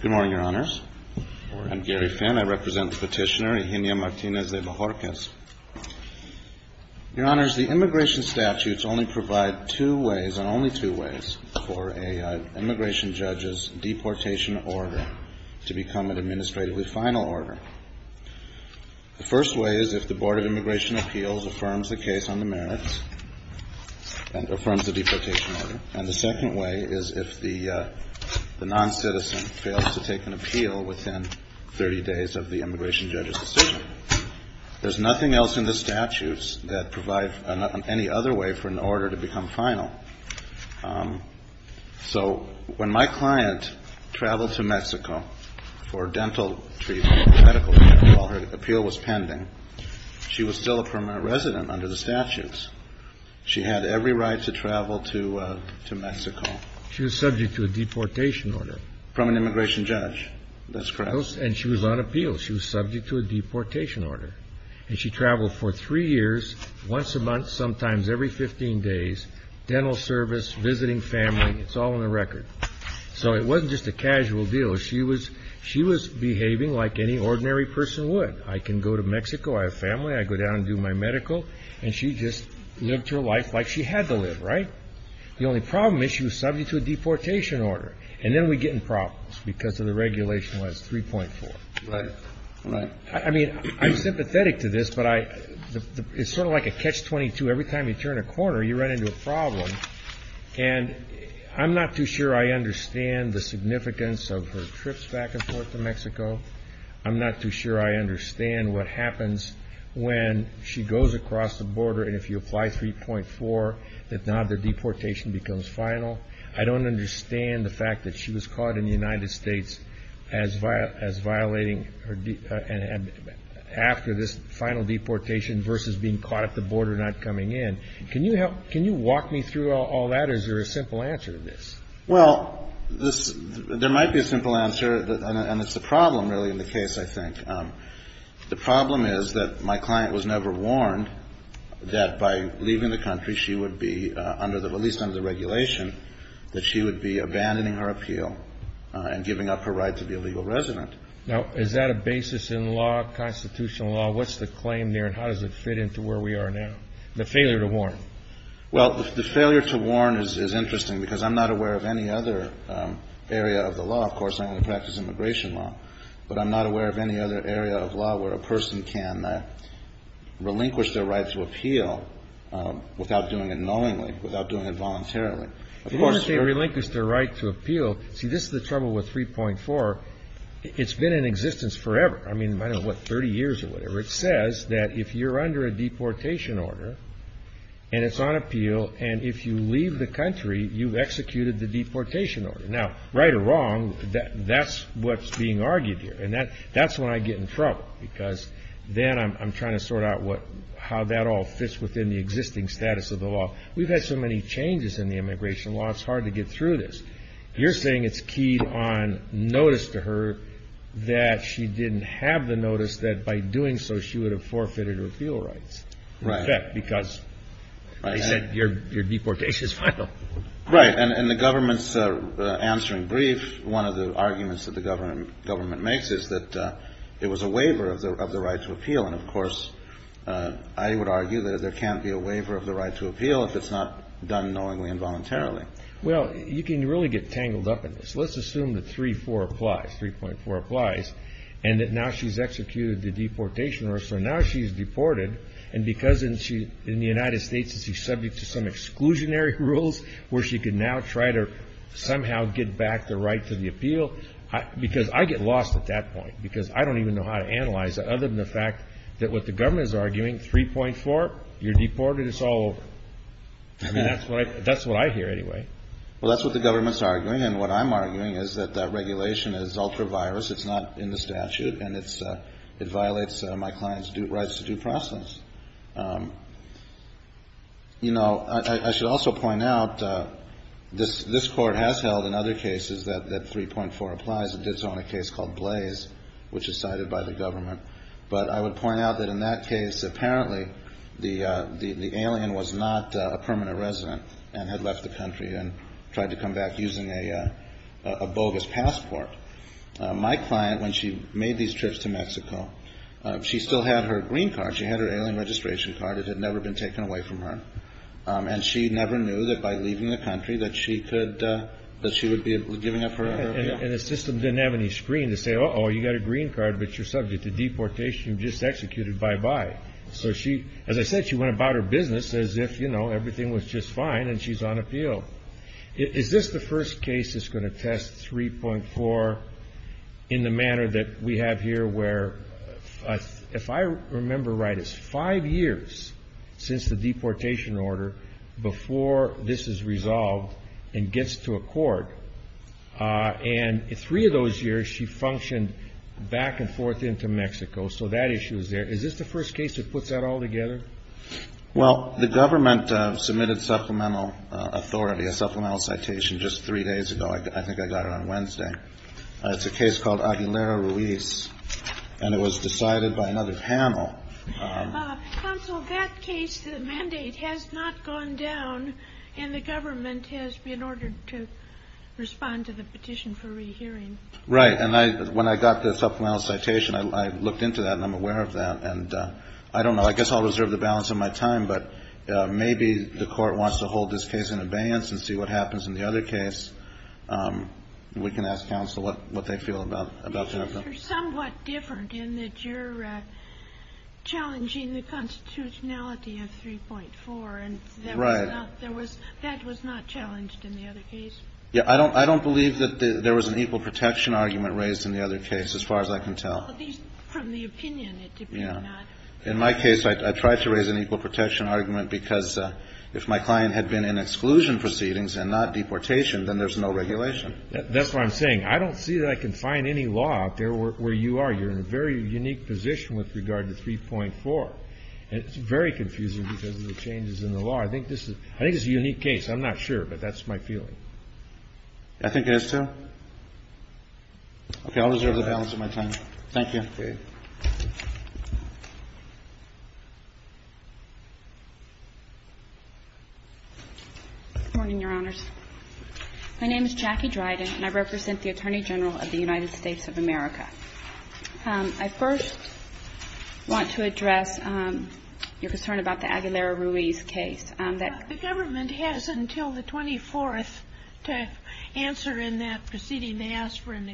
Good morning, Your Honors. I'm Gary Finn. I represent the petitioner, Eginia Martinez de Bajorquez. Your Honors, the immigration statutes only provide two ways, and only two ways, for an immigration judge's deportation order to become an administratively final order. The first way is if the Board of Immigration Appeals affirms the case on the merits and affirms the deportation order. And the second way is if the non-citizen fails to take an appeal within 30 days of the immigration judge's decision. There's nothing else in the statutes that provide any other way for an order to become final. So when my client traveled to Mexico for dental treatment or medical treatment while her appeal was pending, she was still a permanent resident under the statutes. She had every right to travel to Mexico. She was subject to a deportation order. From an immigration judge. That's correct. And she was on appeal. She was subject to a deportation order. And she traveled for three years, once a month, sometimes every 15 days, dental service, visiting family, it's all on the record. So it wasn't just a casual deal. She was behaving like any ordinary person would. I can go to Mexico. I have family. I go down and do my medical. And she just lived her life like she had to live, right? The only problem is she was subject to a deportation order. And then we get in problems because of the regulation was 3.4. Right. Right. I mean, I'm sympathetic to this, but it's sort of like a catch-22. Every time you turn a corner, you run into a problem. And I'm not too sure I understand the significance of her trips back and forth to Mexico. I'm not too sure I understand what happens when she goes across the border. And if you apply 3.4, that now the deportation becomes final. I don't understand the fact that she was caught in the United States as violating her. And after this final deportation versus being caught at the border, not coming in. Can you help? Can you walk me through all that? Is there a simple answer to this? Well, there might be a simple answer, and it's the problem, really, in the case, I think. The problem is that my client was never warned that by leaving the country she would be, at least under the regulation, that she would be abandoning her appeal and giving up her right to be a legal resident. Now, is that a basis in law, constitutional law? What's the claim there and how does it fit into where we are now, the failure to warn? Well, the failure to warn is interesting because I'm not aware of any other area of the law. Of course, I only practice immigration law. But I'm not aware of any other area of law where a person can relinquish their right to appeal without doing it knowingly, without doing it voluntarily. Relinquish their right to appeal. See, this is the trouble with 3.4. It's been in existence forever. I mean, I don't know what, 30 years or whatever. It says that if you're under a deportation order and it's on appeal and if you leave the country, you've executed the deportation order. Now, right or wrong, that's what's being argued here. And that's when I get in trouble because then I'm trying to sort out how that all fits within the existing status of the law. We've had so many changes in the immigration law, it's hard to get through this. You're saying it's keyed on notice to her that she didn't have the notice that by doing so she would have forfeited her appeal rights. Right. In effect, because they said your deportation is final. Right. And the government's answering brief, one of the arguments that the government makes is that it was a waiver of the right to appeal. And, of course, I would argue that there can't be a waiver of the right to appeal if it's not done knowingly and voluntarily. Well, you can really get tangled up in this. Let's assume that 3.4 applies and that now she's executed the deportation order. So now she's deported and because in the United States she's subject to some exclusionary rules where she can now try to somehow get back the right to the appeal because I get lost at that point because I don't even know how to analyze it other than the fact that what the government is arguing, 3.4, you're deported, it's all over. I mean, that's what I hear anyway. Well, that's what the government's arguing. And what I'm arguing is that that regulation is ultra-virus. It's not in the statute and it violates my client's rights to due process. You know, I should also point out this Court has held in other cases that 3.4 applies. It did so in a case called Blaze, which is cited by the government. But I would point out that in that case apparently the alien was not a permanent resident and had left the country and tried to come back using a bogus passport. My client, when she made these trips to Mexico, she still had her green card. She had her alien registration card. It had never been taken away from her. And she never knew that by leaving the country that she would be giving up her appeal. And the system didn't have any screen to say, uh-oh, you got a green card, but you're subject to deportation. You're just executed, bye-bye. So she, as I said, she went about her business as if, you know, everything was just fine and she's on appeal. Is this the first case that's going to test 3.4 in the manner that we have here where, if I remember right, it's five years since the deportation order before this is resolved and gets to a court. And three of those years she functioned back and forth into Mexico. So that issue is there. Is this the first case that puts that all together? Well, the government submitted supplemental authority, a supplemental citation just three days ago. I think I got it on Wednesday. It's a case called Aguilera Ruiz, and it was decided by another panel. Counsel, that case, the mandate has not gone down, and the government has been ordered to respond to the petition for rehearing. Right. And when I got the supplemental citation, I looked into that and I'm aware of that. And I don't know, I guess I'll reserve the balance of my time, but maybe the court wants to hold this case in abeyance and see what happens in the other case. We can ask counsel what they feel about that. You're somewhat different in that you're challenging the constitutionality of 3.4. Right. And that was not challenged in the other case. Yeah, I don't believe that there was an equal protection argument raised in the other case, as far as I can tell. Well, at least from the opinion, it did not. In my case, I tried to raise an equal protection argument because if my client had been in exclusion proceedings and not deportation, then there's no regulation. That's what I'm saying. I don't see that I can find any law out there where you are. You're in a very unique position with regard to 3.4. And it's very confusing because of the changes in the law. I think this is a unique case. I'm not sure, but that's my feeling. I think it is, too. Okay. I'll reserve the balance of my time. Thank you. Okay. Good morning, Your Honors. My name is Jackie Dryden, and I represent the Attorney General of the United States of America. I first want to address your concern about the Aguilera-Ruiz case. The government has until the 24th to answer in that proceeding. They asked for an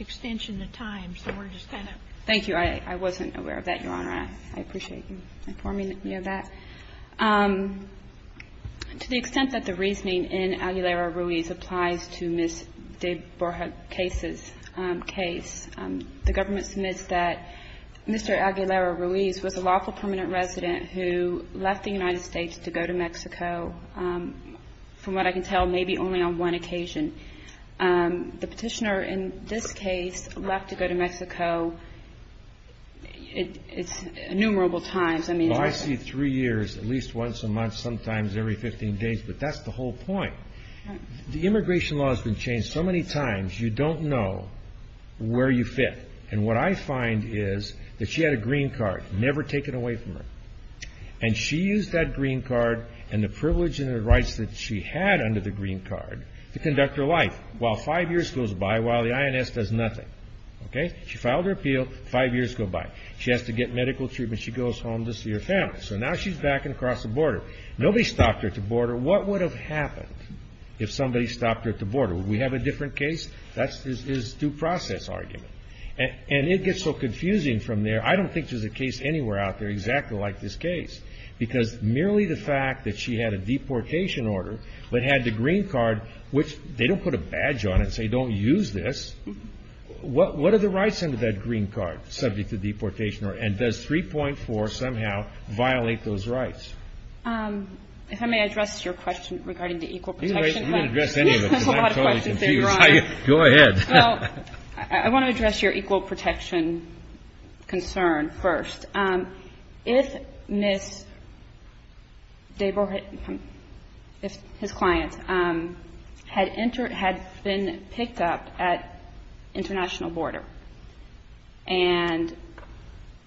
extension of time, so we're just going to go ahead. Thank you. I wasn't aware of that, Your Honor. I appreciate you informing me of that. To the extent that the reasoning in Aguilera-Ruiz applies to Ms. de Borja's case, the government submits that Mr. Aguilera-Ruiz was a lawful permanent resident who left the United States to go to Mexico, from what I can tell, maybe only on one occasion. The petitioner in this case left to go to Mexico innumerable times. I see three years, at least once a month, sometimes every 15 days, but that's the whole point. The immigration law has been changed so many times, you don't know where you fit. And what I find is that she had a green card, never taken away from her. And she used that green card and the privilege and the rights that she had under the green card to conduct her life, while five years goes by while the INS does nothing. Okay? She filed her appeal, five years go by. She has to get medical treatment. She goes home to see her family. So now she's back across the border. Nobody stopped her at the border. What would have happened if somebody stopped her at the border? Would we have a different case? That's his due process argument. And it gets so confusing from there. I don't think there's a case anywhere out there exactly like this case, because merely the fact that she had a deportation order but had the green card, which they don't put a badge on it and say don't use this. What are the rights under that green card subject to deportation and does 3.4 somehow violate those rights? If I may address your question regarding the equal protection. You can address any of it because I'm totally confused. Go ahead. Well, I want to address your equal protection concern first. If Ms. Deborah, his client, had been picked up at international border and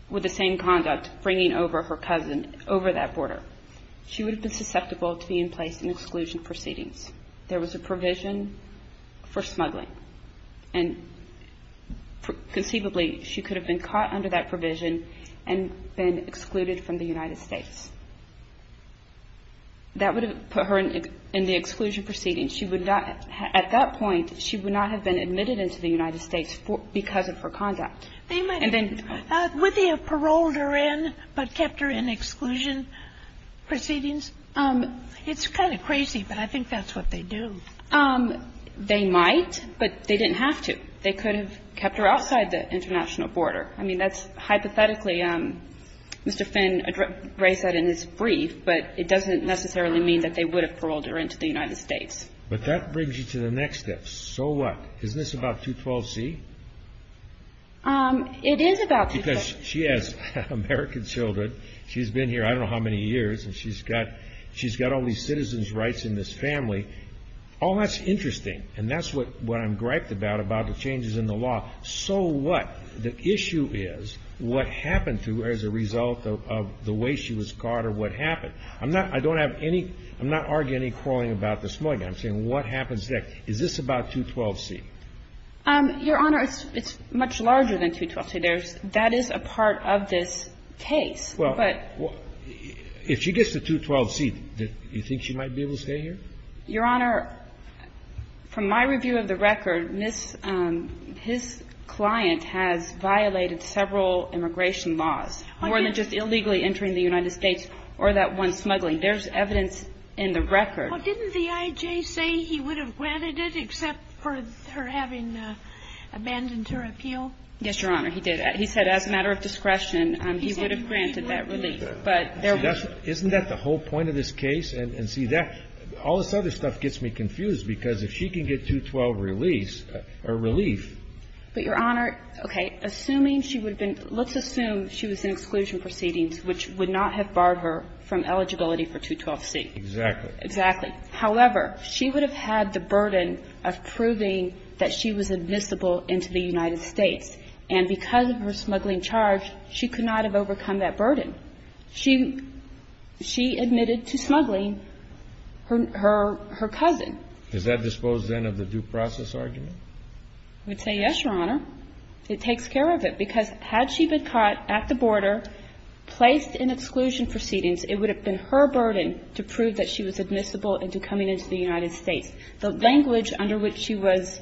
with the same conduct bringing over her cousin over that border, she would have been susceptible to be in place in exclusion proceedings. There was a provision for smuggling. And conceivably, she could have been caught under that provision and been excluded from the United States. That would have put her in the exclusion proceedings. She would not at that point, she would not have been admitted into the United States because of her conduct. They might have been. Would they have paroled her in but kept her in exclusion proceedings? It's kind of crazy, but I think that's what they do. They might, but they didn't have to. They could have kept her outside the international border. I mean, that's hypothetically, Mr. Finn raised that in his brief, but it doesn't necessarily mean that they would have paroled her into the United States. But that brings you to the next step. So what? Isn't this about 212C? It is about 212C. Because she has American children. She's been here I don't know how many years, and she's got all these citizens' rights in this family. All that's interesting and that's what I'm griped about, about the changes in the law. So what? The issue is what happened to her as a result of the way she was caught or what happened. I'm not arguing any quarreling about the smuggling. I'm saying what happens next. Is this about 212C? Your Honor, it's much larger than 212C. That is a part of this case. Well, if she gets to 212C, do you think she might be able to stay here? Your Honor, from my review of the record, his client has violated several immigration laws, more than just illegally entering the United States or that one smuggling. There's evidence in the record. Well, didn't the I.J. say he would have granted it except for her having abandoned her appeal? Yes, Your Honor, he did. He said as a matter of discretion, he would have granted that relief. Isn't that the whole point of this case? And see, all this other stuff gets me confused, because if she can get 212 release or relief ---- But, Your Honor, okay, assuming she would have been ---- let's assume she was in exclusion proceedings, which would not have barred her from eligibility for 212C. Exactly. Exactly. However, she would have had the burden of proving that she was admissible into the United States. And because of her smuggling charge, she could not have overcome that burden. She admitted to smuggling her cousin. Is that disposed, then, of the due process argument? I would say yes, Your Honor. It takes care of it, because had she been caught at the border, placed in exclusion proceedings, it would have been her burden to prove that she was admissible into coming into the United States. The language under which she was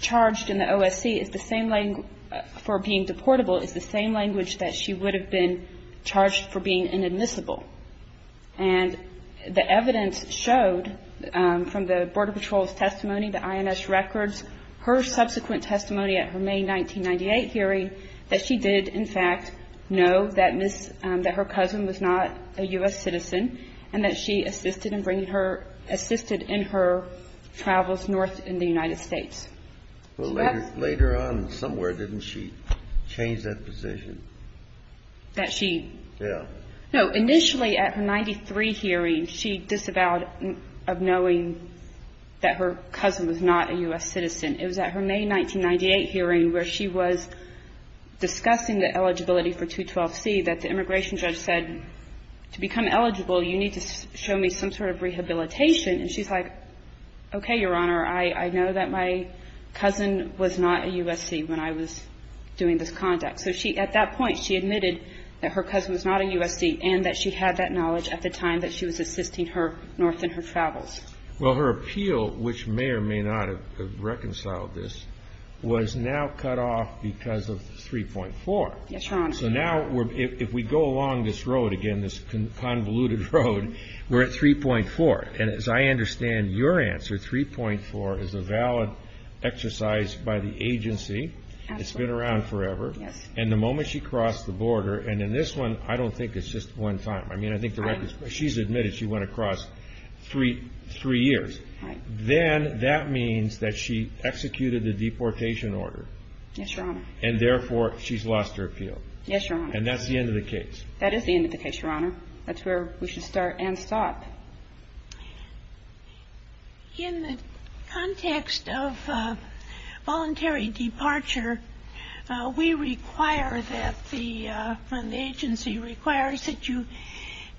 charged in the OSC is the same language for being inadmissible. And the evidence showed, from the Border Patrol's testimony, the INS records, her subsequent testimony at her May 1998 hearing, that she did, in fact, know that her cousin was not a U.S. citizen, and that she assisted in her travels north in the United States. Well, later on, somewhere, didn't she change that position? That she? Yeah. No. Initially, at her 1993 hearing, she disavowed of knowing that her cousin was not a U.S. citizen. It was at her May 1998 hearing, where she was discussing the eligibility for 212C, that the immigration judge said, to become eligible, you need to show me some sort of rehabilitation. And she's like, okay, Your Honor, I know that my cousin was not a U.S.C. when I was doing this conduct. So at that point, she admitted that her cousin was not a U.S.C., and that she had that knowledge at the time that she was assisting her north in her travels. Well, her appeal, which may or may not have reconciled this, was now cut off because of 3.4. Yes, Your Honor. So now, if we go along this road again, this convoluted road, we're at 3.4. And as I understand your answer, 3.4 is a valid exercise by the agency. Absolutely. And so, if the agency has been around forever, and the moment she crossed the border – and in this one, I don't think it's just one time. I mean, I think the record is she's admitted she went across three years. Then that means that she executed the deportation order. Yes, Your Honor. And therefore, she's lost her appeal. Yes, Your Honor. And that's the end of the case. That is the end of the case, Your Honor. That's where we should start and stop. In the context of voluntary departure, we require that the agency requires that you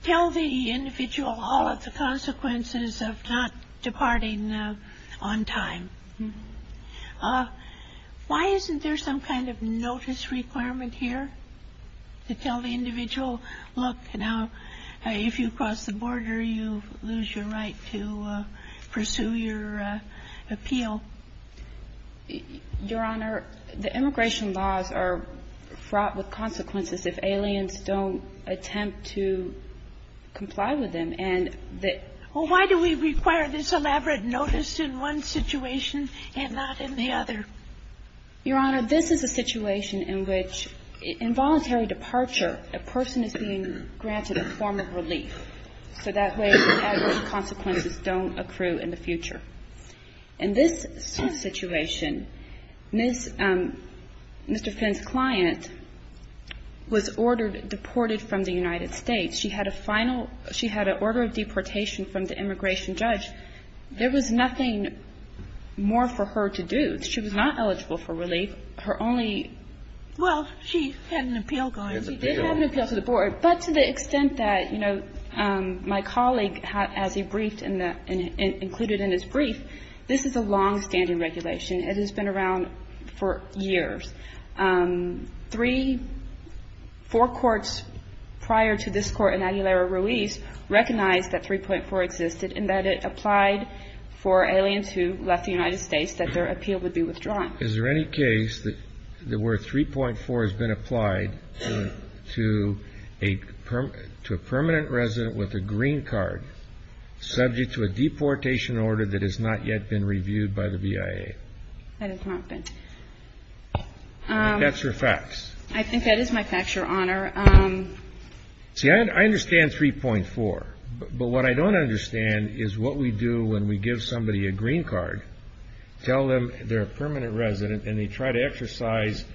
tell the individual all of the consequences of not departing on time. Why isn't there some kind of notice requirement here to tell the individual, look, now, if you cross the border, you lose your right to pursue your appeal? Your Honor, the immigration laws are fraught with consequences if aliens don't attempt to comply with them. And the – Well, why do we require this elaborate notice in one situation and not in the other? Your Honor, this is a situation in which involuntary departure, a person is being granted a form of relief. So that way the adverse consequences don't accrue in the future. In this situation, Ms. – Mr. Finn's client was ordered – deported from the United States. She had a final – she had an order of deportation from the immigration judge. There was nothing more for her to do. She was not eligible for relief. Her only – Well, she had an appeal going. She did have an appeal to the board. But to the extent that, you know, my colleague, as he briefed in the – included in his brief, this is a longstanding regulation. It has been around for years. Three – four courts prior to this court in Aguilera Ruiz recognized that 3.4 existed and that it applied for aliens who left the United States that their appeal would be withdrawn. Is there any case that where 3.4 has been applied to a permanent resident with a green card, subject to a deportation order that has not yet been reviewed by the BIA? That has not been. That's your facts. I think that is my facts, Your Honor. See, I understand 3.4. But what I don't understand is what we do when we give somebody a green card, tell them they're a permanent resident and they try to exercise,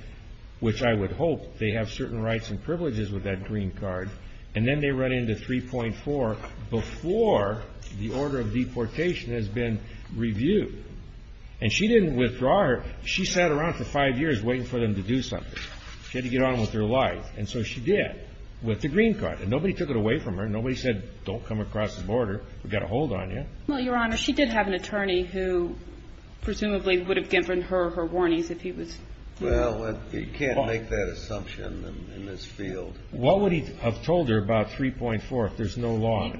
which I would hope, they have certain rights and privileges with that green card, and then they run into 3.4 before the order of deportation has been reviewed. And she didn't withdraw her. She sat around for five years waiting for them to do something. She had to get on with her life. And so she did with the green card. And nobody took it away from her. Nobody said, Don't come across the border. We've got a hold on you. Well, Your Honor, she did have an attorney who presumably would have given her her warnings if he was. Well, you can't make that assumption in this field. What would he have told her about 3.4 if there's no law?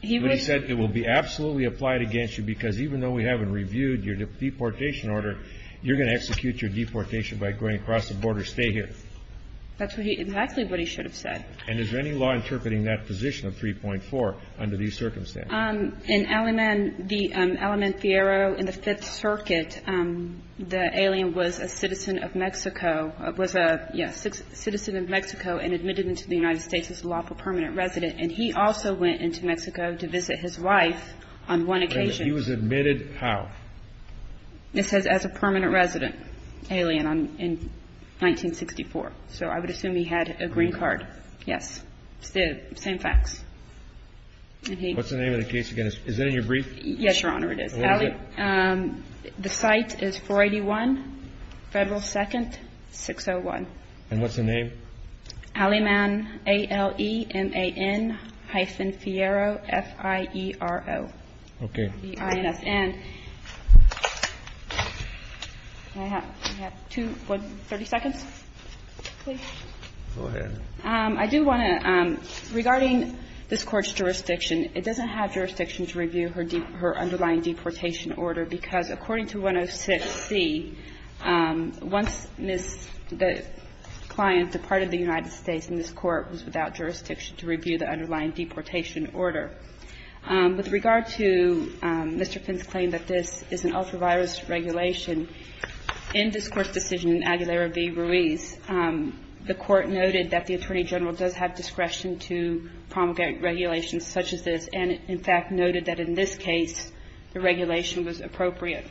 He would have said it will be absolutely applied against you because even though we haven't reviewed your deportation order, you're going to execute your deportation by going across the border. Stay here. That's exactly what he should have said. And is there any law interpreting that position of 3.4 under these circumstances? In Alimen, the Alimen Fierro in the Fifth Circuit, the alien was a citizen of Mexico, was a citizen of Mexico and admitted into the United States as a lawful permanent resident. And he also went into Mexico to visit his wife on one occasion. He was admitted how? It says as a permanent resident alien in 1964. So I would assume he had a green card. Yes. It's the same facts. What's the name of the case again? Is that in your brief? Yes, Your Honor, it is. What is it? The site is 481 Federal 2nd, 601. And what's the name? Alimen, A-L-E-M-A-N hyphen Fierro, F-I-E-R-O. Okay. I have two questions. One is regarding the I-N-S-N. Can I have two, 30 seconds, please? Go ahead. I do want to, regarding this Court's jurisdiction, it doesn't have jurisdiction to review her underlying deportation order, because according to 106C, once the client departed the United States and this Court was without jurisdiction to review the underlying deportation order. With regard to Mr. Finn's claim that this is an ultra-virus regulation, in this Court's decision in Aguilera v. Ruiz, the Court noted that the Attorney General does have discretion to promulgate regulations such as this, and in fact noted that in this case the regulation was appropriate.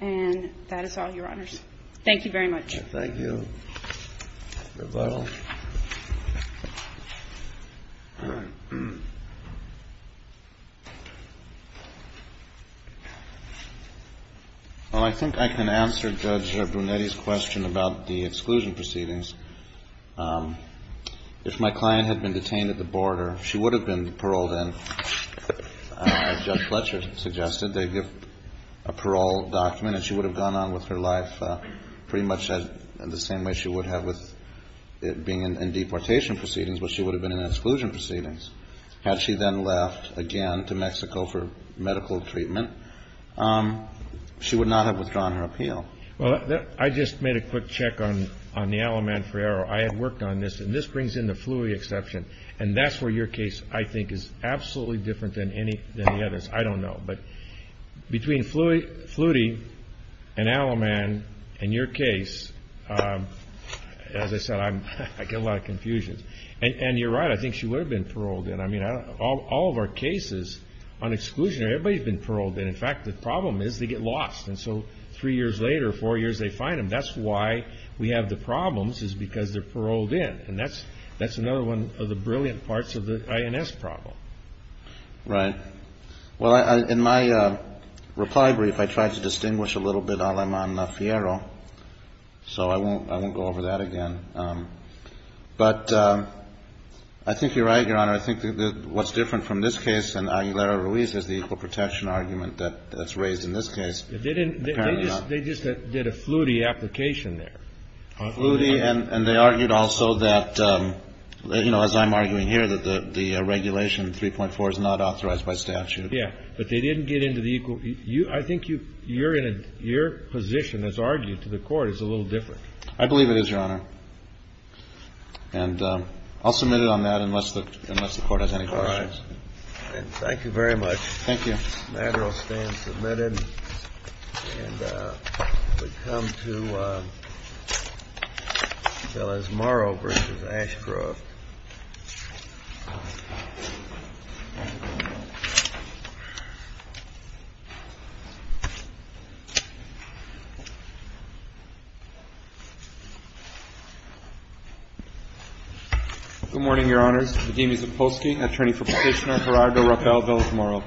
And that is all, Your Honors. Thank you very much. Thank you. Rebuttal. Well, I think I can answer Judge Brunetti's question about the exclusion proceedings. If my client had been detained at the border, she would have been paroled in, as Judge Fletcher suggested. They give a parole document, and she would have gone on with her life pretty much the same way she would have with it being in deportation proceedings, but she would have been in exclusion proceedings. Had she then left again to Mexico for medical treatment, she would not have withdrawn her appeal. Well, I just made a quick check on the Alloman-Ferrero. I have worked on this, and this brings in the Flutie exception, and that's where your case, I think, is absolutely different than any of the others. I don't know. But between Flutie and Alloman and your case, as I said, I get a lot of confusion. And you're right. I think she would have been paroled in. I mean, all of our cases on exclusion, everybody's been paroled in. In fact, the problem is they get lost, and so three years later, four years, they find them. That's why we have the problems is because they're paroled in, and that's another one of the brilliant parts of the INS problem. Right. Well, in my reply brief, I tried to distinguish a little bit Alloman-Ferrero, so I won't go over that again. But I think you're right, Your Honor. I think what's different from this case and Aguilera-Ruiz is the equal protection argument that's raised in this case. They just did a Flutie application there. Flutie, and they argued also that, you know, as I'm arguing here, that the regulation 3.4 is not authorized by statute. Yeah. But they didn't get into the equal you. I think you're in your position as argued to the Court is a little different. I believe it is, Your Honor. And I'll submit it on that unless the Court has any questions. All right. Thank you very much. Thank you. The matter will stand submitted. And we come to Velazmaro v. Ashcroft. Good morning, Your Honors. Vadim Zapolsky, attorney for Petitioner, Gerardo Rappel, Velazmaro.